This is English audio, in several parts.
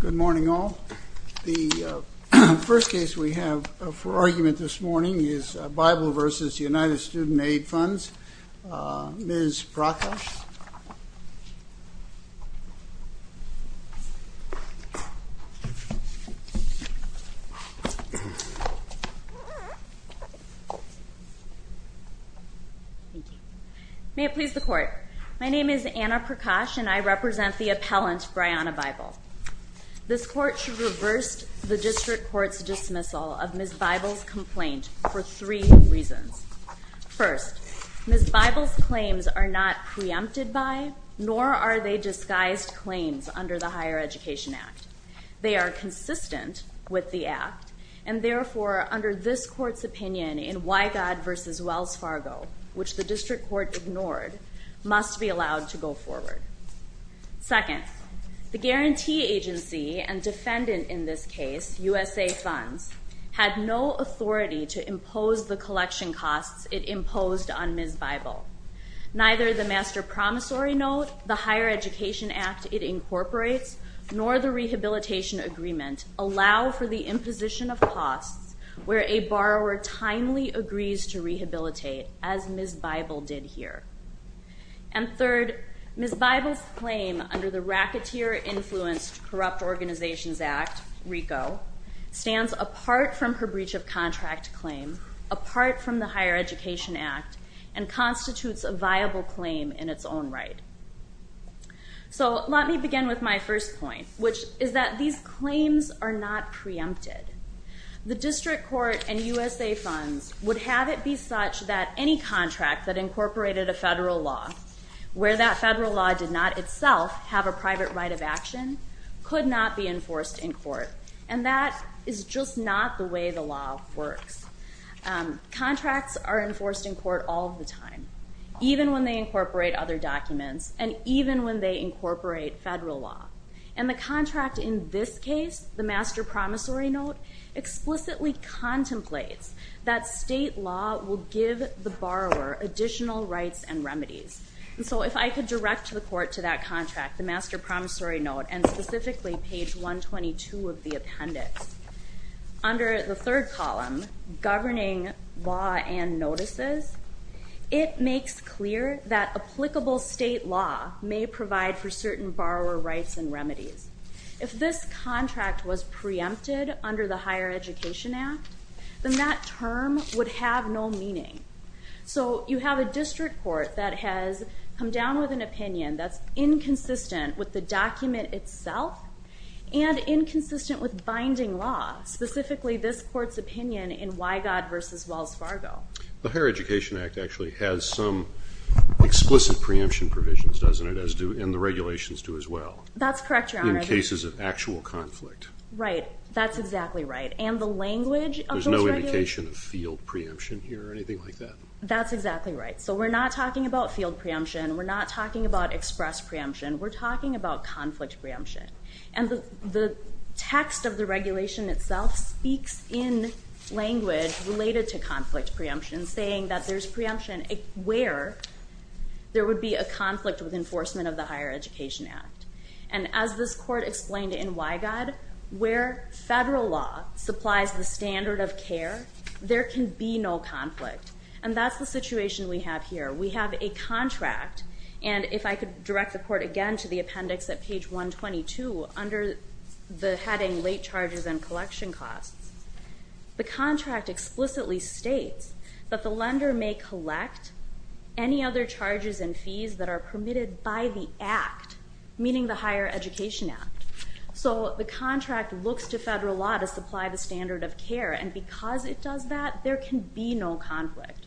Good morning, all. The first case we have for argument this morning is Bible v. United May it please the court. My name is Anna Prakash and I represent the appellant Bryanna Bible. This court should reverse the district court's dismissal of Ms. Bible's complaint for three reasons. First, Ms. Bible's claims are not preempted by, nor are they disguised claims under the Higher Education Act. They are consistent with the act, and therefore, under this court's opinion in Wygod v. Wells Fargo, which the district court ignored, must be allowed to go forward. Second, the guarantee agency and defendant in this case, USA Funds, had no authority to impose the collection costs it imposed on Ms. Bible. Neither the master promissory note, the Higher Education Act it incorporates, nor the rehabilitation agreement allow for the imposition of costs where a borrower timely agrees to rehabilitate, as Ms. Bible did here. And third, Ms. Bible's claim under the racketeer-influenced Corrupt Organizations Act, RICO, stands apart from her breach of contract claim, apart from the Higher Education Act, and constitutes a viable claim in its own right. So let me begin with my first point, which is that these claims are not preempted. The district court and USA Funds would have it be such that any contract that incorporated a federal law, where that federal law did not itself have a private right of action, could not be enforced in court, and that is just not the way the law works. Contracts are enforced in court all the time, even when they incorporate other documents, and even when they incorporate federal law. And the contract in this case, the master promissory note, explicitly contemplates that state law will give the borrower additional rights and remedies. And so if I could direct the court to that contract, the master promissory note, and specifically page 122 of the appendix, under the third column, Governing Law and Notices, it makes clear that applicable state law may provide for certain borrower rights and remedies. If this contract was preempted under the Higher Education Act, then that term would have no meaning. So you have a district court that has come down with an opinion that's inconsistent with the document itself, and inconsistent with binding law, specifically this court's opinion in Wygod v. Wells Fargo. The Higher Education Act actually has some explicit preemption provisions, doesn't it? And the regulations do as well. That's correct, Your Honor. In cases of actual conflict. Right, that's exactly right. And the language of those regulations... There's no indication of field preemption here, or anything like that? That's exactly right. So we're not talking about field preemption, we're not talking about express preemption, we're talking about conflict preemption. And the text of the regulation itself speaks in language related to conflict preemption, saying that there's preemption where there would be a conflict with enforcement of the Higher Education Act. And as this court explained in Wygod, where federal law supplies the standard of care, there can be no conflict. And that's the situation we have here. We have a contract, and if I could direct the court again to the appendix at page 122, under the heading Late Charges and Collection Costs, the contract explicitly states that the lender may collect any other charges and fees that are permitted by the Act, meaning the Higher Education Act. So the contract looks to federal law to supply the standard of care, and because it does that, there can be no conflict.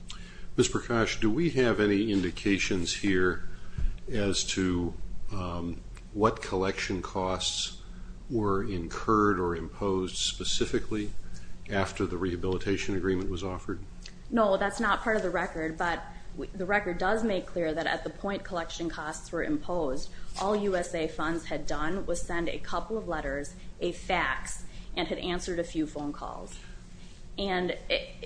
Ms. Prakash, do we have any indications here as to what collection costs were incurred or imposed specifically after the rehabilitation agreement was offered? No, that's not part of the record, but the record does make clear that at the point collection costs were imposed, all USA funds had done was send a couple of letters, a fax, and had answered a few phone calls. And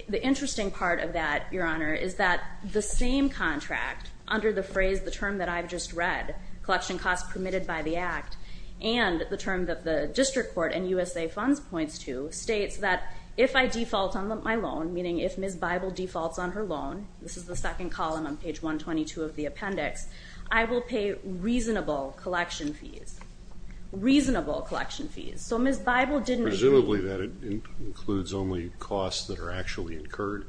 the interesting part of that, Your Honor, is that the same contract, under the phrase, the term that I've just read, collection costs permitted by the Act, and the term that the district court and USA funds points to, states that if I default on my loan, meaning if Ms. Bible defaults on her loan, this is the second column on page 122 of the appendix, I will pay reasonable collection fees. Reasonable collection fees. So Ms. Bible didn't agree. Presumably that includes only costs that are actually incurred.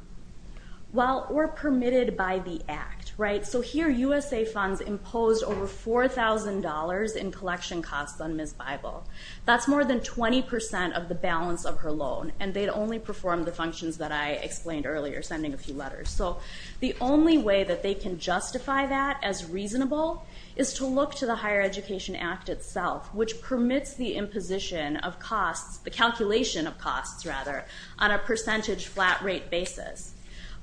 Well, or permitted by the Act, right? So here USA funds imposed over $4,000 in collection costs on Ms. Bible. That's more than 20% of the balance of her loan, and they'd only performed the functions that I explained earlier, sending a few letters. So the only way that they can justify that as reasonable is to look to the Higher Education Act itself, which permits the imposition of costs, the calculation of costs, rather, on a percentage flat rate basis.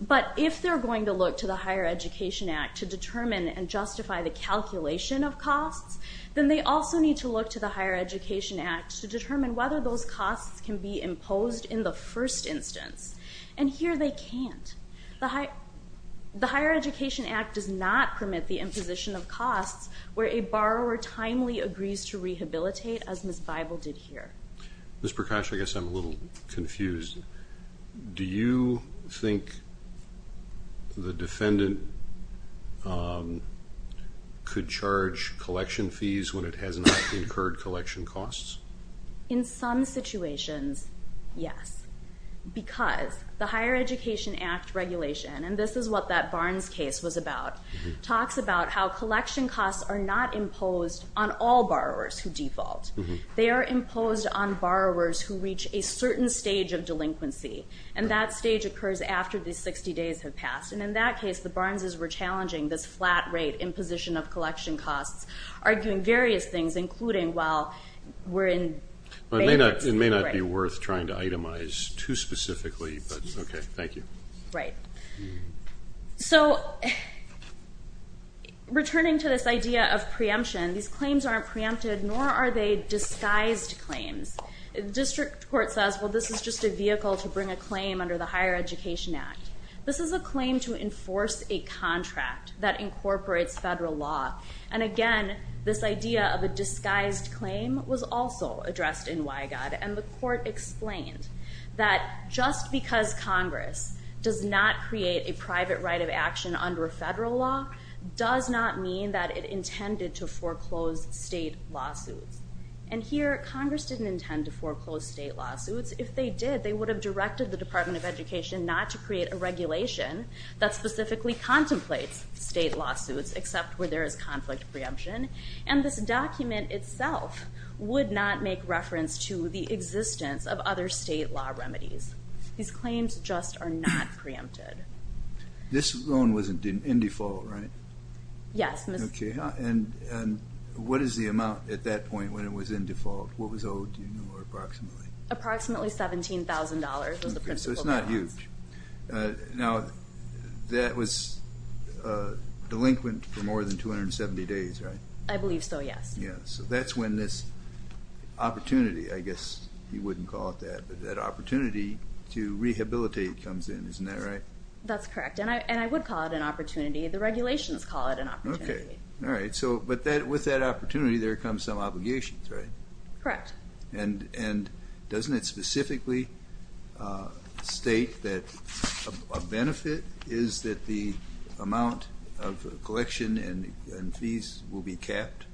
But if they're going to look to the Higher Education Act to determine and justify the calculation of costs, then they also need to look to the Higher Education Act to determine whether those costs can be imposed in the first instance. And here they can't. The Higher Education Act does not permit the imposition of costs where a borrower timely agrees to rehabilitate, as Ms. Bible did here. Ms. Prakash, I guess I'm a little confused. Do you think the defendant could charge collection fees when it has not incurred collection costs? In some situations, yes. Because the Higher Education Act regulation, and this is what that Barnes case was about, talks about how collection costs are not imposed on all borrowers who default. They are imposed on borrowers who reach a certain stage of delinquency, and that stage occurs after the 60 days have passed. And in that case, the Barneses were challenging this flat rate imposition of collection costs, arguing various things, including, well, we're in... It may not be worth trying to itemize too specifically, but okay, thank you. Right. So, returning to this idea of preemption, these claims aren't preempted, nor are they disguised claims. The district court says, well, this is just a vehicle to bring a claim under the Higher Education Act. This is a claim to enforce a contract that incorporates federal law. And again, this idea of a disguised claim was also addressed in Wygott. And the court explained that just because Congress does not create a private right of action under federal law does not mean that it intended to foreclose state lawsuits. And here, Congress didn't intend to foreclose state lawsuits. If they did, they would have directed the Department of Education not to create a regulation that specifically contemplates state lawsuits, except where there is conflict preemption. And this document itself would not make reference to the existence of other state law remedies. These claims just are not preempted. This loan was in default, right? Yes. Okay. And what is the amount at that point when it was in default? What was owed, you know, or approximately? Approximately $17,000 was the principal balance. So it's not huge. Now, that was delinquent for more than 270 days, right? I believe so, yes. Yeah. So that's when this opportunity, I guess you wouldn't call it that, but that opportunity to rehabilitate comes in. Isn't that right? That's correct. And I would call it an opportunity. The regulations call it an opportunity. Okay. All right. So, but with that opportunity, there comes some obligations, right? Correct. And doesn't it specifically state that a benefit is that the amount of collection and fees will be capped?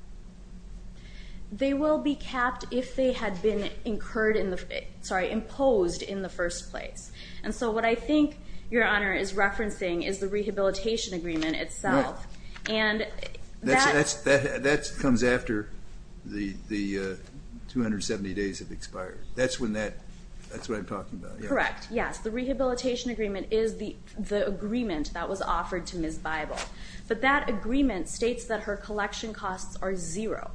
They will be capped if they had been incurred in the, sorry, imposed in the first place. And so what I think Your Honor is referencing is the rehabilitation agreement itself. Right. That comes after the 270 days have expired. That's when that, that's what I'm talking about. Correct, yes. The rehabilitation agreement is the agreement that was offered to Ms. Bible. But that agreement states that her collection costs are zero.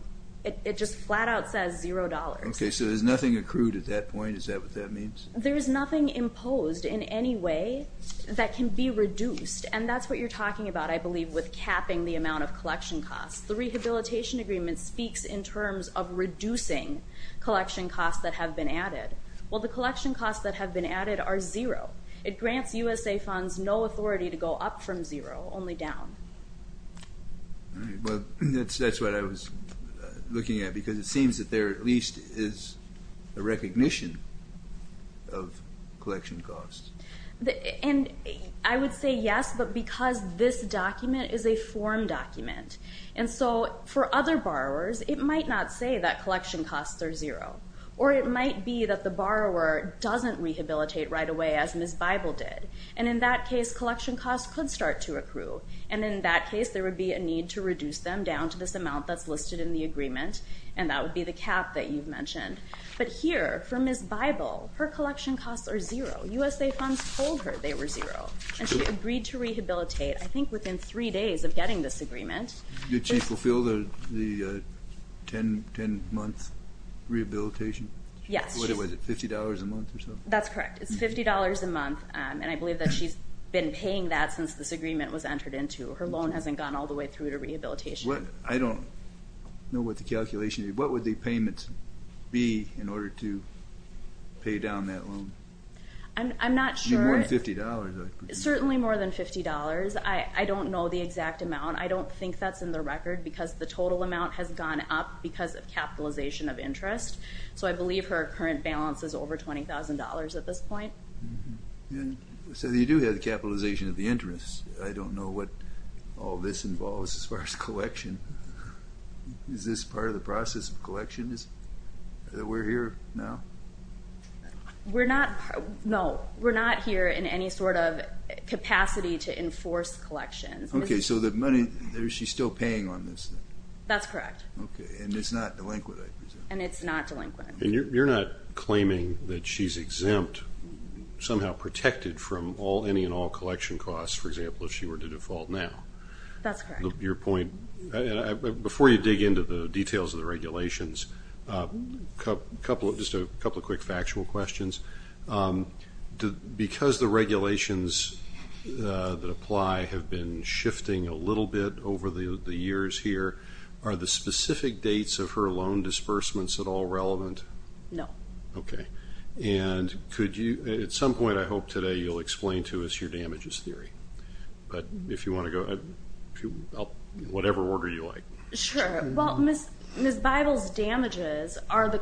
It just flat out says $0. Okay. So there's nothing accrued at that point? Is that what that means? There is nothing imposed in any way that can be reduced. And that's what you're talking about, I believe, with capping the amount of collection costs. The rehabilitation agreement speaks in terms of reducing collection costs that have been added. Well, the collection costs that have been added are zero. It grants USA funds no authority to go up from zero, only down. All right. Well, that's what I was looking at because it seems that there at least is a recognition of collection costs. And I would say yes, but because this document is a form document. And so for other borrowers, it might not say that collection costs are zero. Or it might be that the borrower doesn't rehabilitate right away as Ms. Bible did. And in that case, collection costs could start to accrue. And in that case, there would be a need to reduce them down to this amount that's listed in the agreement. And that would be the cap that you've mentioned. But here, for Ms. Bible, her collection costs are zero. USA funds told her they were zero. And she agreed to rehabilitate, I think, within three days of getting this agreement. Did she fulfill the 10-month rehabilitation? Yes. What was it, $50 a month or something? That's correct. It's $50 a month. And I believe that she's been paying that since this agreement was entered into. Her loan hasn't gone all the way through to rehabilitation. I don't know what the calculation is. What would the payment be in order to pay down that loan? I'm not sure. More than $50, I presume. Certainly more than $50. I don't know the exact amount. I don't think that's in the record because the total amount has gone up because of capitalization of interest. So I believe her current balance is over $20,000 at this point. So you do have the capitalization of the interest. I don't know what all this involves as far as collection. Is this part of the process of collection, that we're here now? No, we're not here in any sort of capacity to enforce collections. Okay. So the money, she's still paying on this? That's correct. Okay. And it's not delinquent, I presume? And it's not delinquent. And you're not claiming that she's exempt, somehow protected from any and all collection costs, for example, if she were to default now? That's correct. Before you dig into the details of the regulations, just a couple of quick factual questions. Because the regulations that apply have been shifting a little bit over the years here, are the specific dates of her loan disbursements at all relevant? No. Okay. And at some point, I hope, today you'll explain to us your damages theory. But if you want to go ahead, whatever order you like. Sure. Well, Ms. Bible's damages are the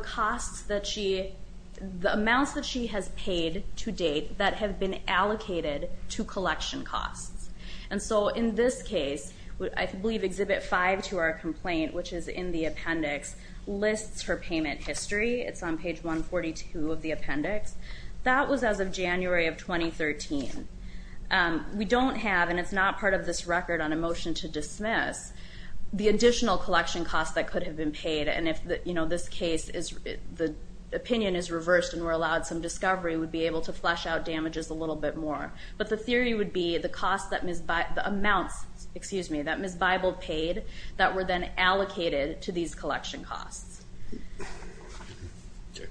amounts that she has paid to date that have been allocated to collection costs. And so in this case, I believe Exhibit 5 to our complaint, which is in the appendix, lists her payment history. It's on page 142 of the appendix. That was as of January of 2013. We don't have, and it's not part of this record on a motion to dismiss, the additional collection costs that could have been paid. And if this case, the opinion is reversed and we're allowed some discovery, we'd be able to flesh out damages a little bit more. But the theory would be the amounts that Ms. Bible paid that were then allocated to these collection costs. Okay.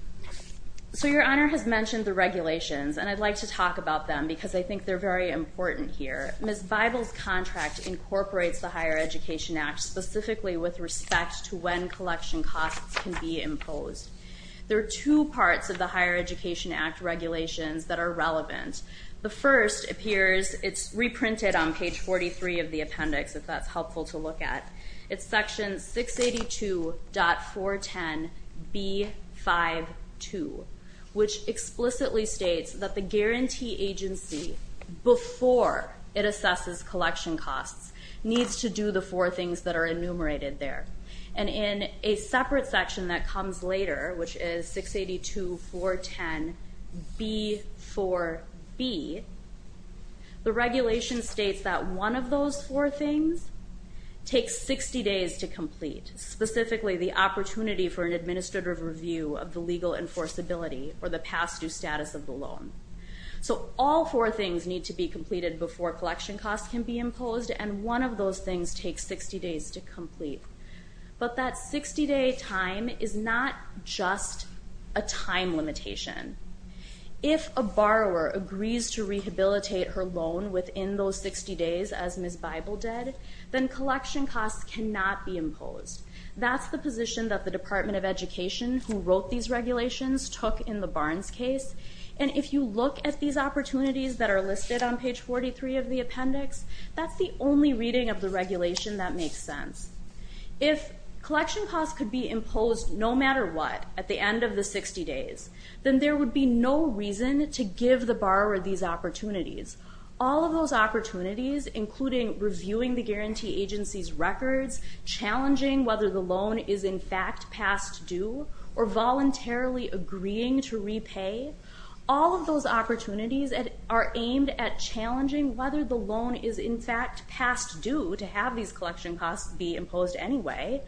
So Your Honor has mentioned the regulations, and I'd like to talk about them because I think they're very important here. Ms. Bible's contract incorporates the Higher Education Act specifically with respect to when collection costs can be imposed. There are two parts of the Higher Education Act regulations that are relevant. The first appears, it's reprinted on page 43 of the appendix, if that's helpful to look at. It's section 682.410B52, which explicitly states that the guarantee agency, before it assesses collection costs, needs to do the four things that are enumerated there. And in a separate section that comes later, which is 682.410B4B, the regulation states that one of those four things takes 60 days to complete, specifically the opportunity for an administrative review of the legal enforceability or the past due status of the loan. So all four things need to be completed before collection costs can be imposed, and one of those things takes 60 days to complete. But that 60-day time is not just a time limitation. If a borrower agrees to rehabilitate her loan within those 60 days, as Ms. Bible did, then collection costs cannot be imposed. That's the position that the Department of Education, who wrote these regulations, took in the Barnes case. And if you look at these opportunities that are listed on page 43 of the appendix, that's the only reading of the regulation that makes sense. If collection costs could be imposed no matter what at the end of the 60 days, then there would be no reason to give the borrower these opportunities. All of those opportunities, including reviewing the guarantee agency's records, challenging whether the loan is in fact past due, or voluntarily agreeing to repay, all of those opportunities are aimed at challenging whether the loan is in fact past due to have these collection costs be imposed anyway,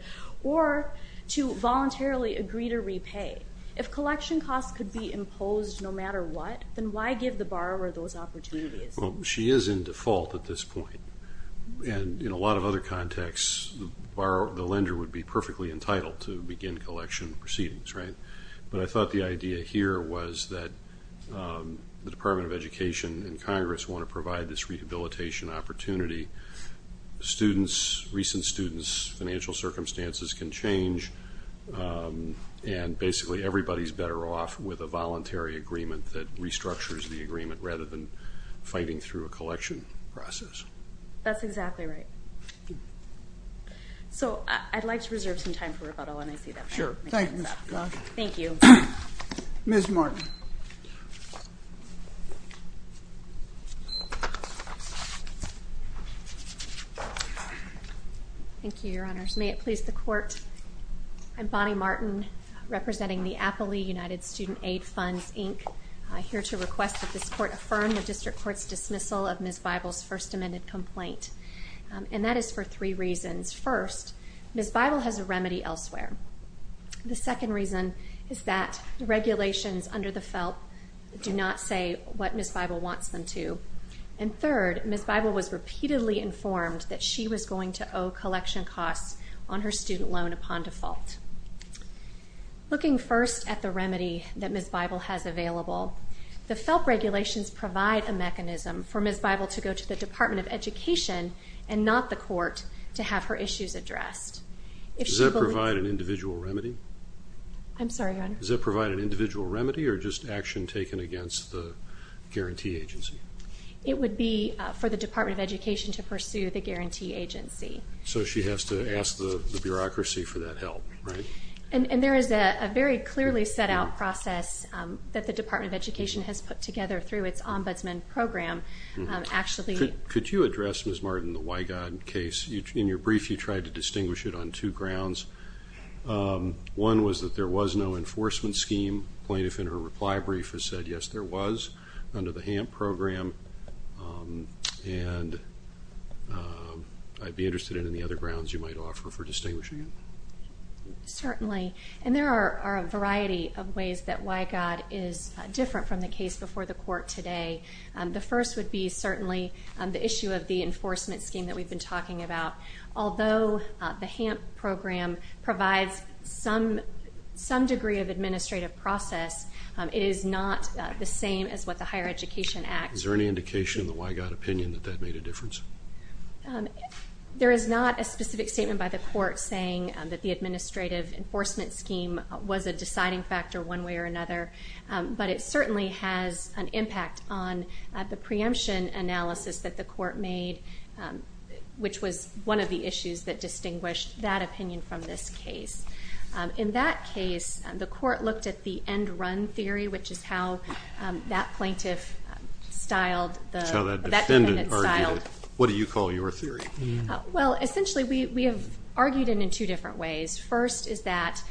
or to voluntarily agree to repay. If collection costs could be imposed no matter what, then why give the borrower those opportunities? Well, she is in default at this point, and in a lot of other contexts, the lender would be perfectly entitled to begin collection proceedings, right? But I thought the idea here was that the Department of Education and Congress want to provide this rehabilitation opportunity. Students, recent students' financial circumstances can change, and basically everybody's better off with a voluntary agreement that restructures the agreement rather than fighting through a collection process. That's exactly right. So I'd like to reserve some time for rebuttal when I see that. Sure. Thank you, Ms. McGaughey. Thank you. Ms. Martin. Thank you, Your Honors. May it please the Court, I'm Bonnie Martin, representing the Appley United Student Aid Funds, Inc., here to request that this Court affirm the District Court's dismissal of Ms. Bible's First Amendment complaint. And that is for three reasons. First, Ms. Bible has a remedy elsewhere. The second reason is that the regulations under the FELP do not say what Ms. Bible wants them to. And third, Ms. Bible was repeatedly informed that she was going to owe collection costs on her student loan upon default. Looking first at the remedy that Ms. Bible has available, the FELP regulations provide a mechanism for Ms. Bible to go to the Department of Education and not the Court to have her issues addressed. Does that provide an individual remedy? I'm sorry, Your Honor. Does that provide an individual remedy or just action taken against the guarantee agency? It would be for the Department of Education to pursue the guarantee agency. So she has to ask the bureaucracy for that help, right? And there is a very clearly set out process that the Department of Education has put together through its ombudsman program, actually. Could you address, Ms. Martin, the Wygod case? In your brief, you tried to distinguish it on two grounds. One was that there was no enforcement scheme. Plaintiff in her reply brief has said, yes, there was under the HAMP program. And I'd be interested in any other grounds you might offer for distinguishing it. Certainly. And there are a variety of ways that Wygod is different from the case before the Court today. The first would be certainly the issue of the enforcement scheme that we've been talking about. Although the HAMP program provides some degree of administrative process, it is not the same as what the Higher Education Act. Is there any indication in the Wygod opinion that that made a difference? There is not a specific statement by the Court saying that the administrative enforcement scheme was a deciding factor one way or another. But it certainly has an impact on the preemption analysis that the Court made, which was one of the issues that distinguished that opinion from this case. In that case, the Court looked at the end-run theory, which is how that plaintiff styled the defendant. So that defendant argued it. What do you call your theory? Well, essentially we have argued it in two different ways. First is that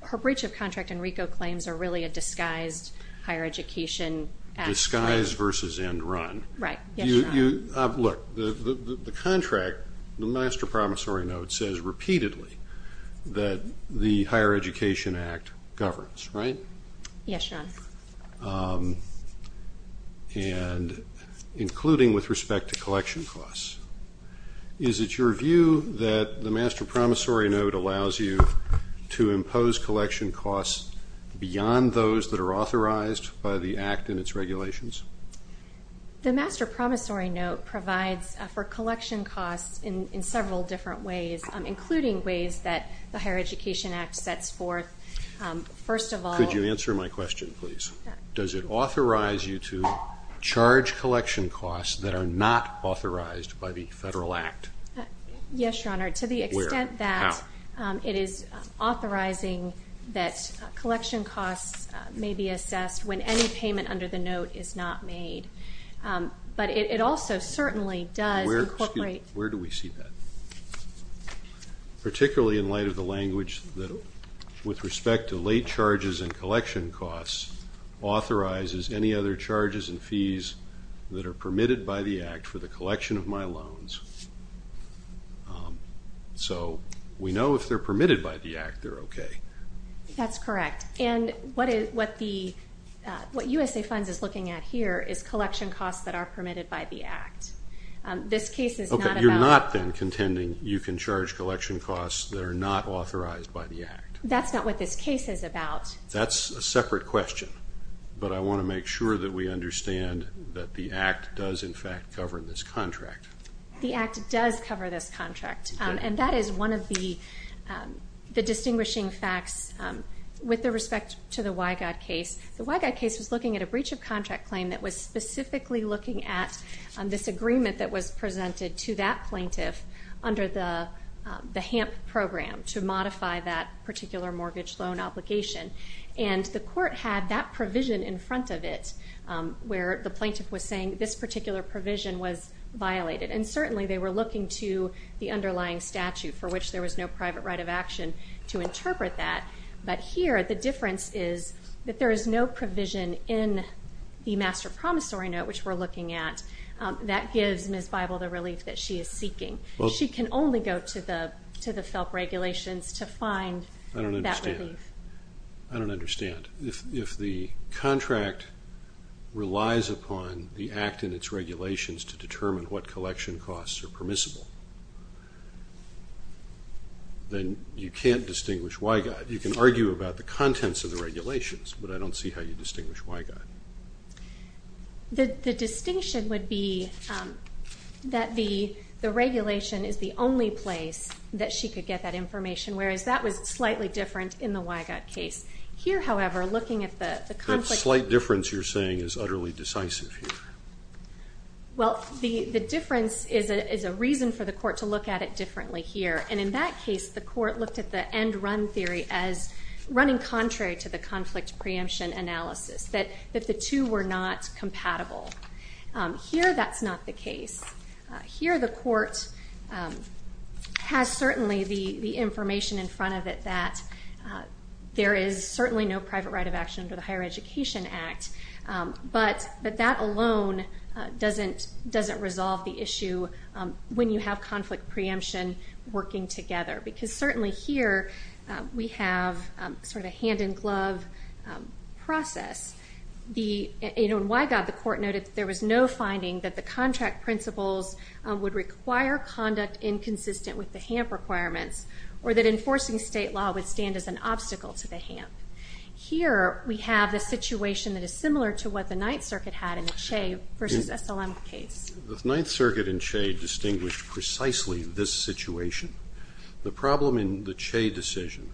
her breach of contract in RICO claims are really a disguised higher education act. Disguised versus end-run. Right. Look, the contract, the Master Promissory Note, says repeatedly that the Higher Education Act governs, right? Yes, Sean. And including with respect to collection costs. Is it your view that the Master Promissory Note allows you to impose collection costs beyond those that are authorized by the Act and its regulations? The Master Promissory Note provides for collection costs in several different ways, including ways that the Higher Education Act sets forth. First of all- Could you answer my question, please? Does it authorize you to charge collection costs that are not authorized by the Federal Act? Yes, Your Honor. To the extent that- Where? How? It is authorizing that collection costs may be assessed when any payment under the note is not made. But it also certainly does incorporate- Where do we see that? Particularly in light of the language that with respect to late charges and collection costs, authorizes any other charges and fees that are permitted by the Act for the collection of my loans. So we know if they're permitted by the Act, they're okay. That's correct. And what USA Funds is looking at here is collection costs that are permitted by the Act. This case is not about- You can charge collection costs that are not authorized by the Act. That's not what this case is about. That's a separate question. But I want to make sure that we understand that the Act does, in fact, cover this contract. The Act does cover this contract. And that is one of the distinguishing facts with respect to the Wygod case. The Wygod case was looking at a breach of contract claim that was specifically looking at this agreement that was presented to that plaintiff under the HAMP program to modify that particular mortgage loan obligation. And the court had that provision in front of it, where the plaintiff was saying this particular provision was violated. And certainly they were looking to the underlying statute, for which there was no private right of action to interpret that. But here the difference is that there is no provision in the Master Promissory Note, which we're looking at, that gives Ms. Bible the relief that she is seeking. She can only go to the FELP regulations to find that relief. I don't understand. I don't understand. If the contract relies upon the Act and its regulations to determine what collection costs are permissible, then you can't distinguish Wygod. You can argue about the contents of the regulations, but I don't see how you distinguish Wygod. The distinction would be that the regulation is the only place that she could get that information, whereas that was slightly different in the Wygod case. Here, however, looking at the conflict. That slight difference you're saying is utterly decisive here. Well, the difference is a reason for the court to look at it differently here. And in that case, the court looked at the end-run theory as running contrary to the conflict preemption analysis, that the two were not compatible. Here that's not the case. Here the court has certainly the information in front of it that there is certainly no private right of action under the Higher Education Act, but that alone doesn't resolve the issue when you have conflict preemption working together, because certainly here we have sort of a hand-in-glove process. In Wygod, the court noted that there was no finding that the contract principles would require conduct inconsistent with the HAMP requirements or that enforcing state law would stand as an obstacle to the HAMP. Here we have a situation that is similar to what the Ninth Circuit had in the Che versus SLM case. The Ninth Circuit and Che distinguished precisely this situation. The problem in the Che decision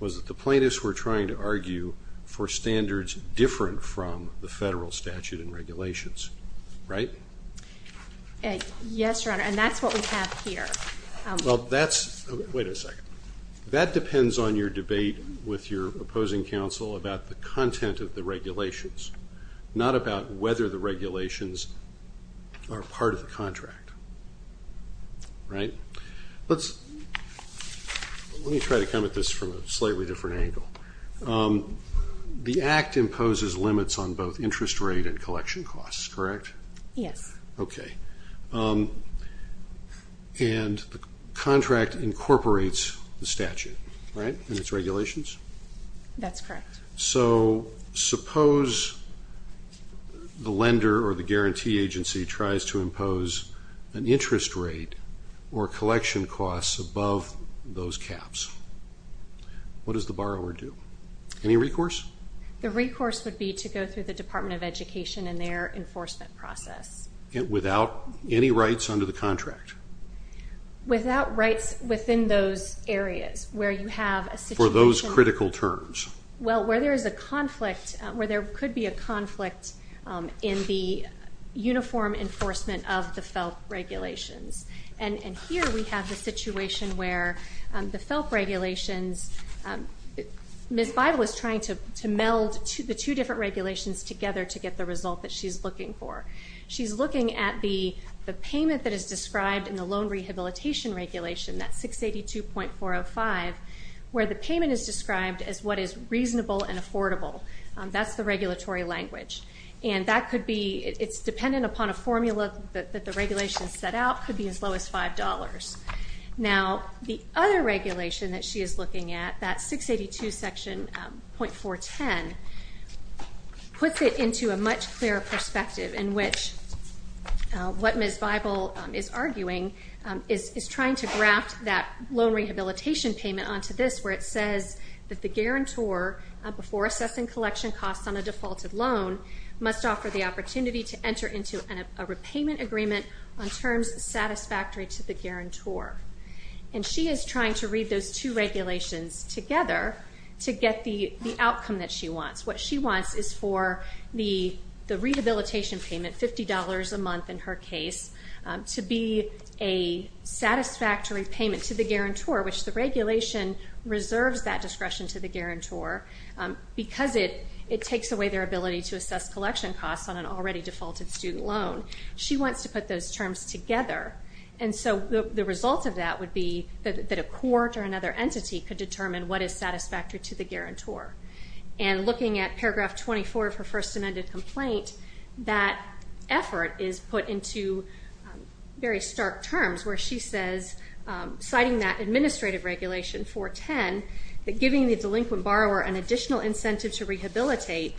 was that the plaintiffs were trying to argue for standards different from the federal statute and regulations, right? Yes, Your Honor, and that's what we have here. Wait a second. That depends on your debate with your opposing counsel about the content of the regulations, not about whether the regulations are part of the contract, right? Let me try to come at this from a slightly different angle. The Act imposes limits on both interest rate and collection costs, correct? Yes. Okay. And the contract incorporates the statute, right, in its regulations? That's correct. So suppose the lender or the guarantee agency tries to impose an interest rate or collection costs above those caps. What does the borrower do? Any recourse? The recourse would be to go through the Department of Education and their enforcement process. Without any rights under the contract? Without rights within those areas where you have a situation. For those critical terms? Well, where there is a conflict, where there could be a conflict in the uniform enforcement of the FELP regulations. And here we have the situation where the FELP regulations, Ms. Bible is trying to meld the two different regulations together to get the result that she's looking for. She's looking at the payment that is described in the loan rehabilitation regulation, that 682.405, where the payment is described as what is reasonable and affordable. That's the regulatory language. And that could be, it's dependent upon a formula that the regulations set out, could be as low as $5. Now, the other regulation that she is looking at, that 682.410, puts it into a much clearer perspective in which what Ms. Bible is arguing is trying to graft that loan rehabilitation payment onto this where it says that the guarantor, before assessing collection costs on a defaulted loan, must offer the opportunity to enter into a repayment agreement on terms satisfactory to the guarantor. And she is trying to read those two regulations together to get the outcome that she wants. What she wants is for the rehabilitation payment, $50 a month in her case, to be a satisfactory payment to the guarantor, which the regulation reserves that discretion to the guarantor, because it takes away their ability to assess collection costs on an already defaulted student loan. She wants to put those terms together. And so the result of that would be that a court or another entity could determine what is satisfactory to the guarantor. And looking at paragraph 24 of her first amended complaint, that effort is put into very stark terms, where she says, citing that administrative regulation, 410, that giving the delinquent borrower an additional incentive to rehabilitate,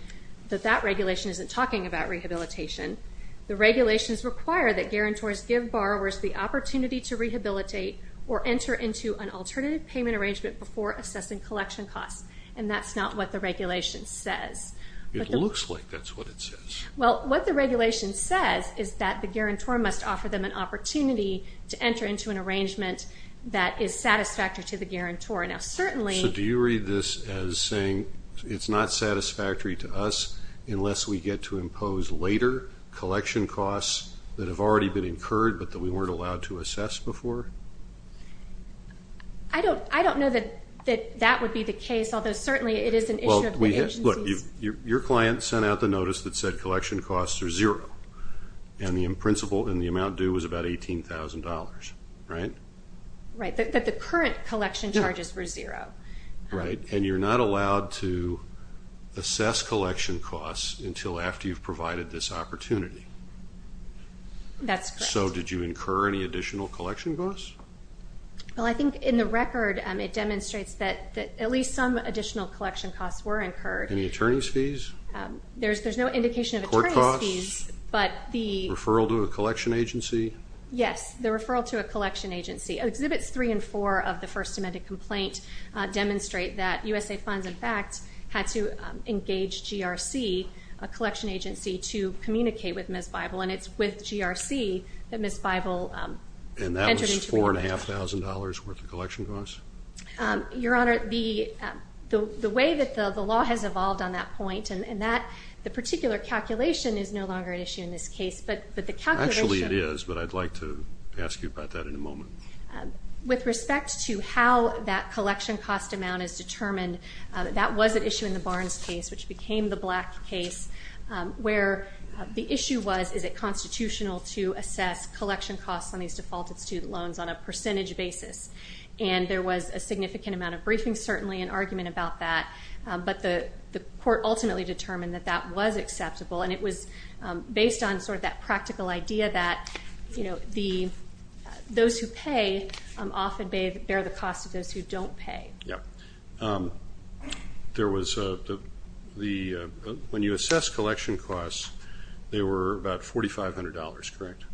that that regulation isn't talking about rehabilitation. The regulations require that guarantors give borrowers the opportunity to rehabilitate or enter into an alternative payment arrangement before assessing collection costs. And that's not what the regulation says. It looks like that's what it says. Well, what the regulation says is that the guarantor must offer them an opportunity to enter into an arrangement that is satisfactory to the guarantor. Now, certainly... So do you read this as saying it's not satisfactory to us unless we get to impose later collection costs that have already been incurred but that we weren't allowed to assess before? I don't know that that would be the case, although certainly it is an issue of the agencies. Well, look, your client sent out the notice that said collection costs are zero, and the amount due was about $18,000, right? Right. But the current collection charges were zero. Right. And you're not allowed to assess collection costs until after you've provided this opportunity. That's correct. And so did you incur any additional collection costs? Well, I think in the record it demonstrates that at least some additional collection costs were incurred. Any attorney's fees? There's no indication of attorney's fees. Court costs? Referral to a collection agency? Yes, the referral to a collection agency. Exhibits 3 and 4 of the First Amendment complaint demonstrate that USA Funds, in fact, had to engage GRC, a collection agency, to communicate with Ms. Bible, and it's with GRC that Ms. Bible entered into the agreement. And that was $4,500 worth of collection costs? Your Honor, the way that the law has evolved on that point, and the particular calculation is no longer at issue in this case, but the calculation of it. Actually it is, but I'd like to ask you about that in a moment. With respect to how that collection cost amount is determined, that was at issue in the Barnes case, which became the Black case, where the issue was is it constitutional to assess collection costs on these defaulted student loans on a percentage basis. And there was a significant amount of briefing, certainly, and argument about that. But the court ultimately determined that that was acceptable, and it was based on sort of that practical idea that, you know, those who pay often bear the cost of those who don't pay. When you assess collection costs, they were about $4,500, correct?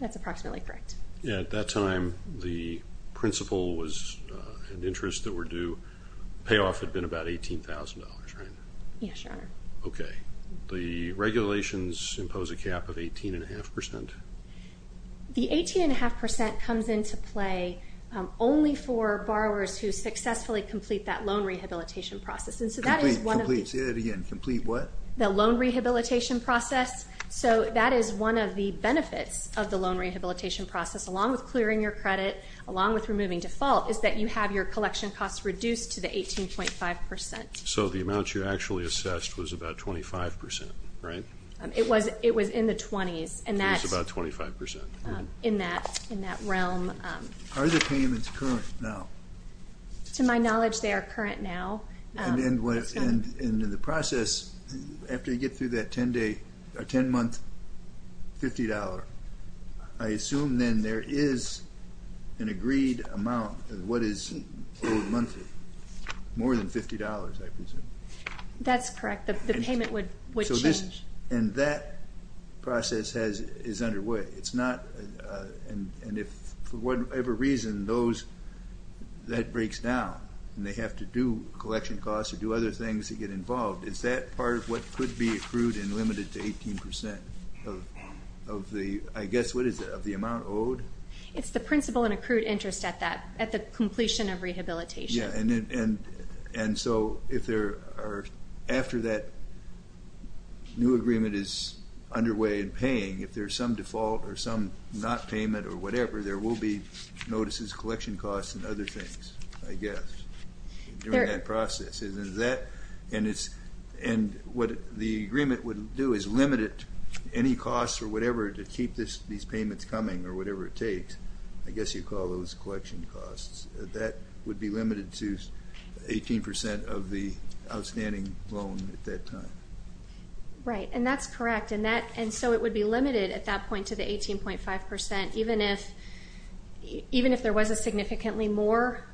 That's approximately correct. At that time, the principal was an interest that were due. Payoff had been about $18,000, right? Yes, Your Honor. Okay. The regulations impose a cap of 18.5%? The 18.5% comes into play only for borrowers who successfully complete that loan rehabilitation process. Complete. Complete. Say that again. Complete what? The loan rehabilitation process. So that is one of the benefits of the loan rehabilitation process, along with clearing your credit, along with removing default, is that you have your collection costs reduced to the 18.5%. So the amount you actually assessed was about 25%, right? It was in the 20s. It was about 25%. In that realm. Are the payments current now? To my knowledge, they are current now. And in the process, after you get through that 10-month, $50, I assume then there is an agreed amount of what is owed monthly, more than $50, I presume. That's correct. The payment would change. And that process is underway. It's not, and if for whatever reason that breaks down, and they have to do collection costs or do other things to get involved, is that part of what could be accrued and limited to 18% of the, I guess, what is it, of the amount owed? It's the principal and accrued interest at that, at the completion of rehabilitation. Yeah, and so if there are, after that new agreement is underway and paying, if there's some default or some not payment or whatever, there will be notices, collection costs, and other things, I guess, during that process. And what the agreement would do is limit it, any costs or whatever, to keep these payments coming, or whatever it takes. I guess you'd call those collection costs. That would be limited to 18% of the outstanding loan at that time. Right, and that's correct. And so it would be limited at that point to the 18.5%, even if there was a significantly more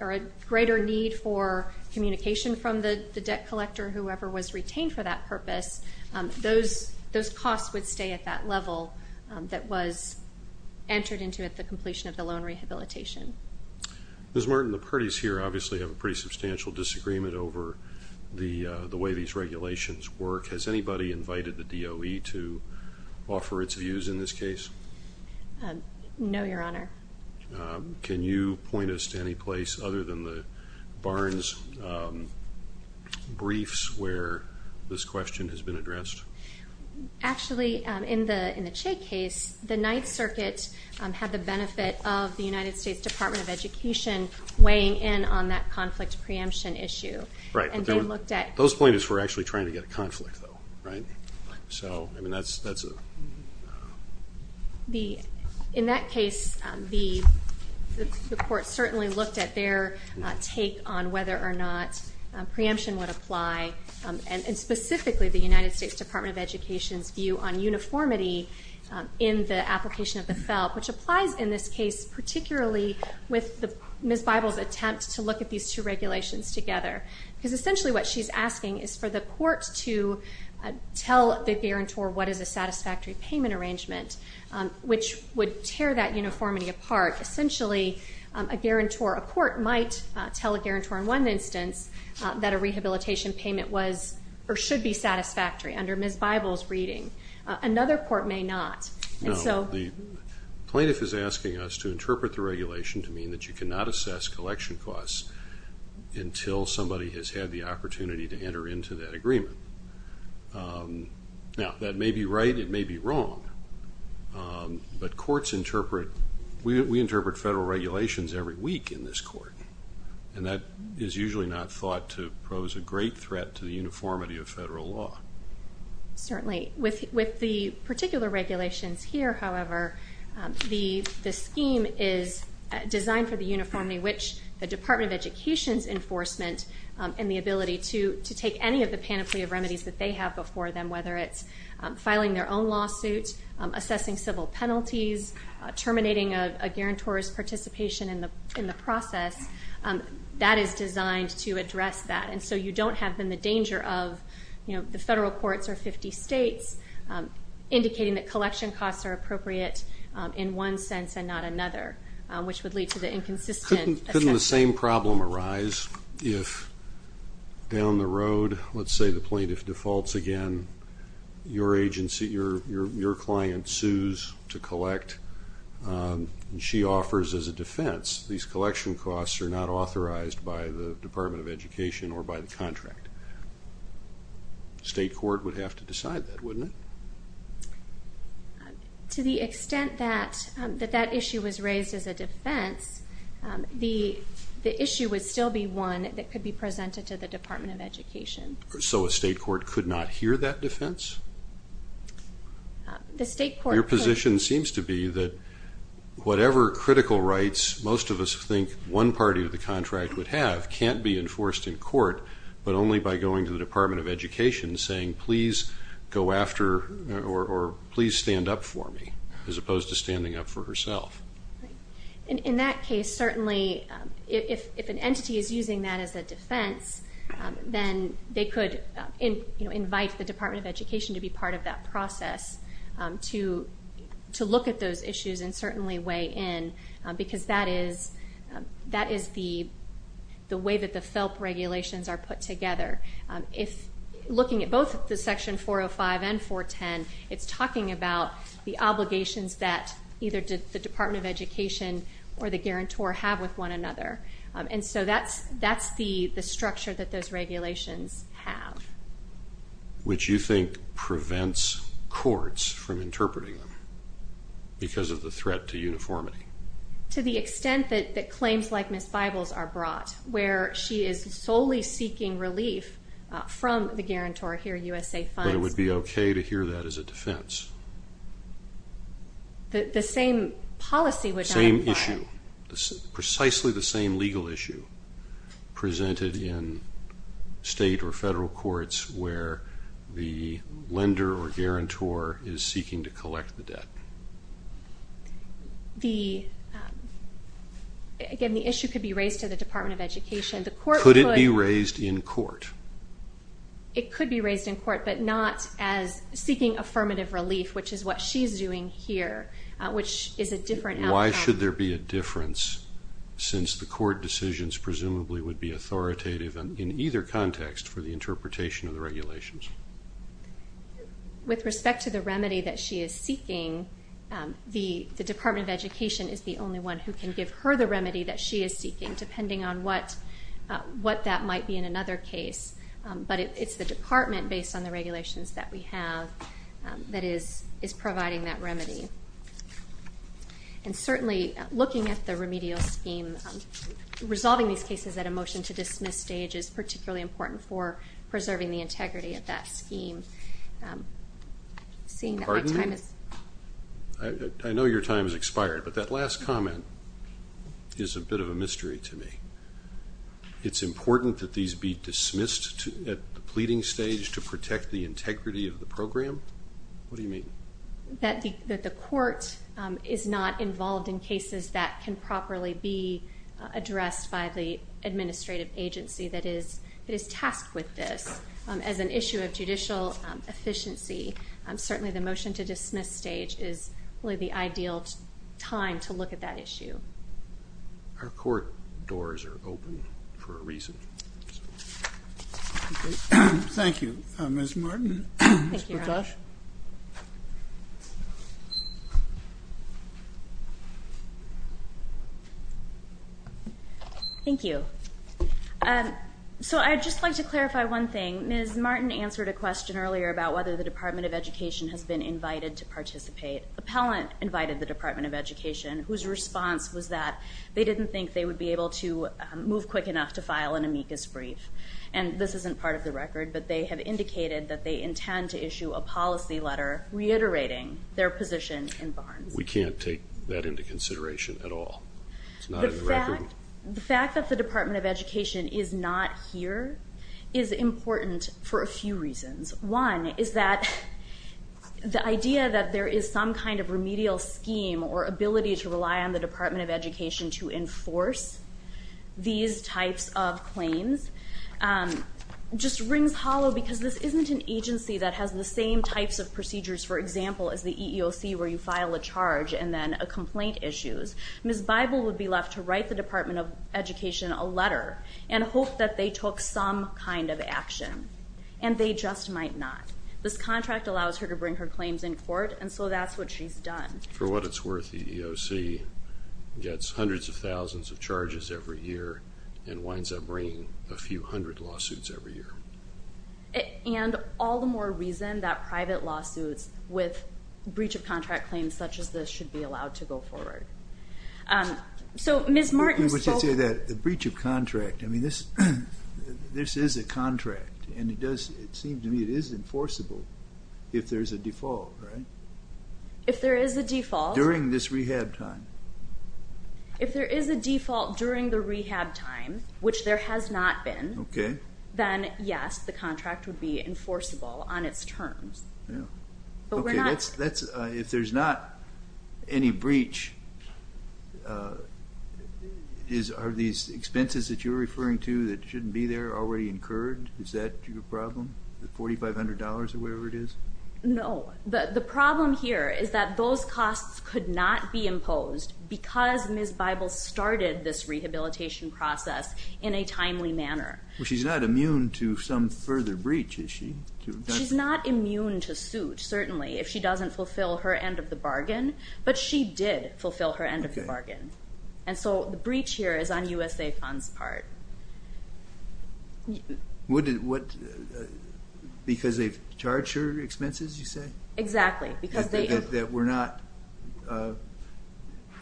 or a greater need for communication from the debt collector or whoever was retained for that purpose, those costs would stay at that level that was entered into at the completion of the loan rehabilitation. Ms. Martin, the parties here obviously have a pretty substantial disagreement over the way these regulations work. Has anybody invited the DOE to offer its views in this case? No, Your Honor. Can you point us to any place other than the Barnes briefs where this question has been addressed? Actually, in the Che case, the Ninth Circuit had the benefit of the United States Department of Education weighing in on that conflict preemption issue. Those plaintiffs were actually trying to get a conflict, though, right? So, I mean, that's a... In that case, the court certainly looked at their take on whether or not preemption would apply, and specifically the United States Department of Education's view on uniformity in the application of the felt, which applies in this case particularly with Ms. Bible's attempt to look at these two regulations together. Because essentially what she's asking is for the court to tell the guarantor what is a satisfactory payment arrangement, which would tear that uniformity apart. Essentially, a guarantor, a court might tell a guarantor in one instance that a rehabilitation payment was or should be satisfactory under Ms. Bible's reading. Another court may not. No, the plaintiff is asking us to interpret the regulation to mean that you cannot assess collection costs until somebody has had the opportunity to enter into that agreement. Now, that may be right, it may be wrong, but courts interpret... We interpret federal regulations every week in this court, and that is usually not thought to pose a great threat to the uniformity of federal law. Certainly. With the particular regulations here, however, the scheme is designed for the uniformity which the Department of Education's enforcement and the ability to take any of the panoply of remedies that they have before them, whether it's filing their own lawsuit, assessing civil penalties, terminating a guarantor's participation in the process, that is designed to address that. And so you don't have, then, the danger of the federal courts or 50 states indicating that collection costs are appropriate in one sense and not another, which would lead to the inconsistent assessment. Couldn't the same problem arise if down the road, let's say the plaintiff defaults again, your client sues to collect, and she offers as a defense, these collection costs are not authorized by the Department of Education or by the contract? State court would have to decide that, wouldn't it? To the extent that that issue was raised as a defense, the issue would still be one that could be presented to the Department of Education. So a state court could not hear that defense? The state court could. Your position seems to be that whatever critical rights most of us think one party of the contract would have can't be enforced in court, but only by going to the Department of Education and saying, please go after or please stand up for me, as opposed to standing up for herself. In that case, certainly, if an entity is using that as a defense, then they could invite the Department of Education to be part of that process to look at those issues and certainly weigh in because that is the way that the FELP regulations are put together. Looking at both the Section 405 and 410, it's talking about the obligations that either the Department of Education or the guarantor have with one another. And so that's the structure that those regulations have. Which you think prevents courts from interpreting them because of the threat to uniformity? To the extent that claims like Ms. Bibles are brought, where she is solely seeking relief from the guarantor here, USA Funds. But it would be okay to hear that as a defense? The same policy would not apply. Precisely the same legal issue presented in state or federal courts where the lender or guarantor is seeking to collect the debt. Again, the issue could be raised to the Department of Education. Could it be raised in court? It could be raised in court, but not as seeking affirmative relief, which is what she's doing here, which is a different outcome. Why should there be a difference, since the court decisions presumably would be authoritative in either context for the interpretation of the regulations? With respect to the remedy that she is seeking, the Department of Education is the only one who can give her the remedy that she is seeking, depending on what that might be in another case. But it's the department, based on the regulations that we have, that is providing that remedy. And certainly, looking at the remedial scheme, resolving these cases at a motion-to-dismiss stage is particularly important for preserving the integrity of that scheme. I know your time has expired, but that last comment is a bit of a mystery to me. It's important that these be dismissed at the pleading stage to protect the integrity of the program? What do you mean? That the court is not involved in cases that can properly be addressed by the administrative agency that is tasked with this. As an issue of judicial efficiency, certainly the motion-to-dismiss stage is really the ideal time to look at that issue. Our court doors are open for a reason. Thank you. Ms. Martin? Thank you, Your Honor. Thank you. So I'd just like to clarify one thing. Ms. Martin answered a question earlier about whether the Department of Education has been invited to participate. Appellant invited the Department of Education, whose response was that they didn't think they would be able to move quick enough to file an amicus brief. And this isn't part of the record, but they have indicated that they intend to issue a policy letter reiterating their position in Barnes. We can't take that into consideration at all. It's not in the record. The fact that the Department of Education is not here is important for a few reasons. One is that the idea that there is some kind of remedial scheme or ability to rely on the Department of Education to enforce these types of claims just rings hollow because this isn't an agency that has the same types of procedures, for example, as the EEOC where you file a charge and then a complaint issues. Ms. Bible would be left to write the Department of Education a letter and hope that they took some kind of action, and they just might not. This contract allows her to bring her claims in court, and so that's what she's done. For what it's worth, the EEOC gets hundreds of thousands of charges every year and winds up bringing a few hundred lawsuits every year. And all the more reason that private lawsuits with breach of contract claims such as this should be allowed to go forward. So Ms. Martin spoke- I was going to say that the breach of contract, I mean, this is a contract, and it does seem to me it is enforceable if there is a default, right? If there is a default- During this rehab time. If there is a default during the rehab time, which there has not been, then yes, the contract would be enforceable on its terms. Okay, if there's not any breach, are these expenses that you're referring to that shouldn't be there already incurred? Is that your problem, the $4,500 or whatever it is? No. The problem here is that those costs could not be imposed because Ms. Bible started this rehabilitation process in a timely manner. Well, she's not immune to some further breach, is she? She's not immune to suit, certainly, if she doesn't fulfill her end of the bargain, but she did fulfill her end of the bargain. And so the breach here is on USA Fund's part. Because they've charged her expenses, you say? Exactly, because they- That were not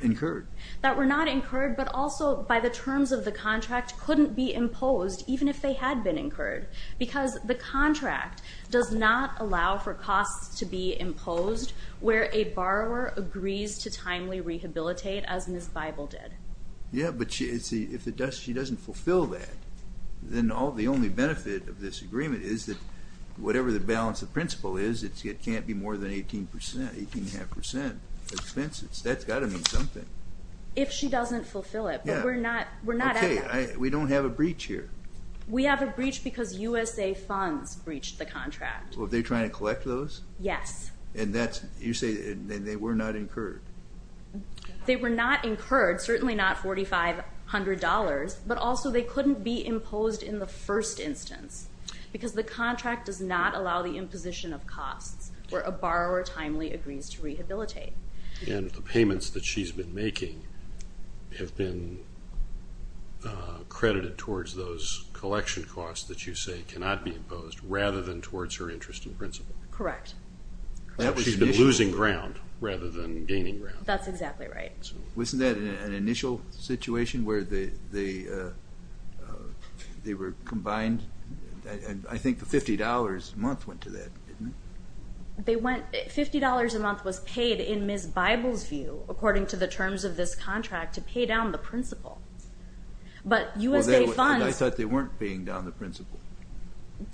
incurred. That were not incurred, but also by the terms of the contract, couldn't be imposed even if they had been incurred because the contract does not allow for costs to be imposed where a borrower agrees to timely rehabilitate as Ms. Bible did. Yeah, but if she doesn't fulfill that, then the only benefit of this agreement is that whatever the balance of principle is, it can't be more than 18 percent, 18.5 percent of expenses. That's got to mean something. If she doesn't fulfill it, but we're not at that. Okay, we don't have a breach here. We have a breach because USA Fund's breached the contract. Well, they're trying to collect those? Yes. And you say they were not incurred? They were not incurred, certainly not $4,500, but also they couldn't be imposed in the first instance because the contract does not allow the imposition of costs where a borrower timely agrees to rehabilitate. And the payments that she's been making have been credited towards those collection costs that you say cannot be imposed rather than towards her interest in principle. Correct. She's been losing ground rather than gaining ground. That's exactly right. Wasn't that an initial situation where they were combined? I think the $50 a month went to that, didn't it? $50 a month was paid in Ms. Bible's view, according to the terms of this contract, to pay down the principle. But USA Fund's- I thought they weren't paying down the principle.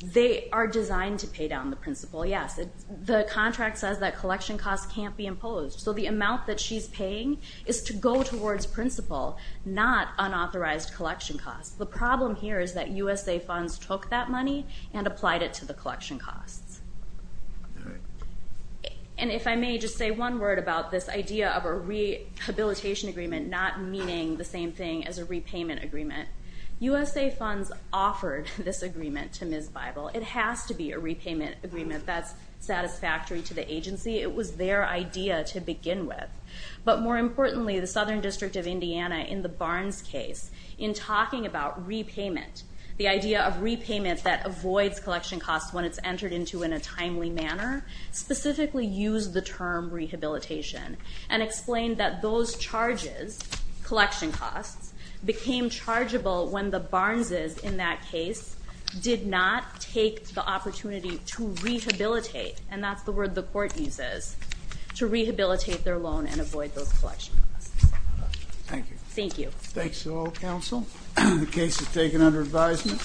They are designed to pay down the principle, yes. The contract says that collection costs can't be imposed, so the amount that she's paying is to go towards principle, not unauthorized collection costs. The problem here is that USA Funds took that money and applied it to the collection costs. All right. And if I may just say one word about this idea of a rehabilitation agreement not meaning the same thing as a repayment agreement. USA Funds offered this agreement to Ms. Bible. It has to be a repayment agreement that's satisfactory to the agency. It was their idea to begin with. But more importantly, the Southern District of Indiana, in the Barnes case, in talking about repayment, the idea of repayment that avoids collection costs when it's entered into in a timely manner, specifically used the term rehabilitation and explained that those charges, collection costs, became chargeable when the Barneses in that case did not take the opportunity to rehabilitate. And that's the word the court uses, to rehabilitate their loan and avoid those collection costs. Thank you. Thank you. Thanks to all counsel. The case is taken under advisement.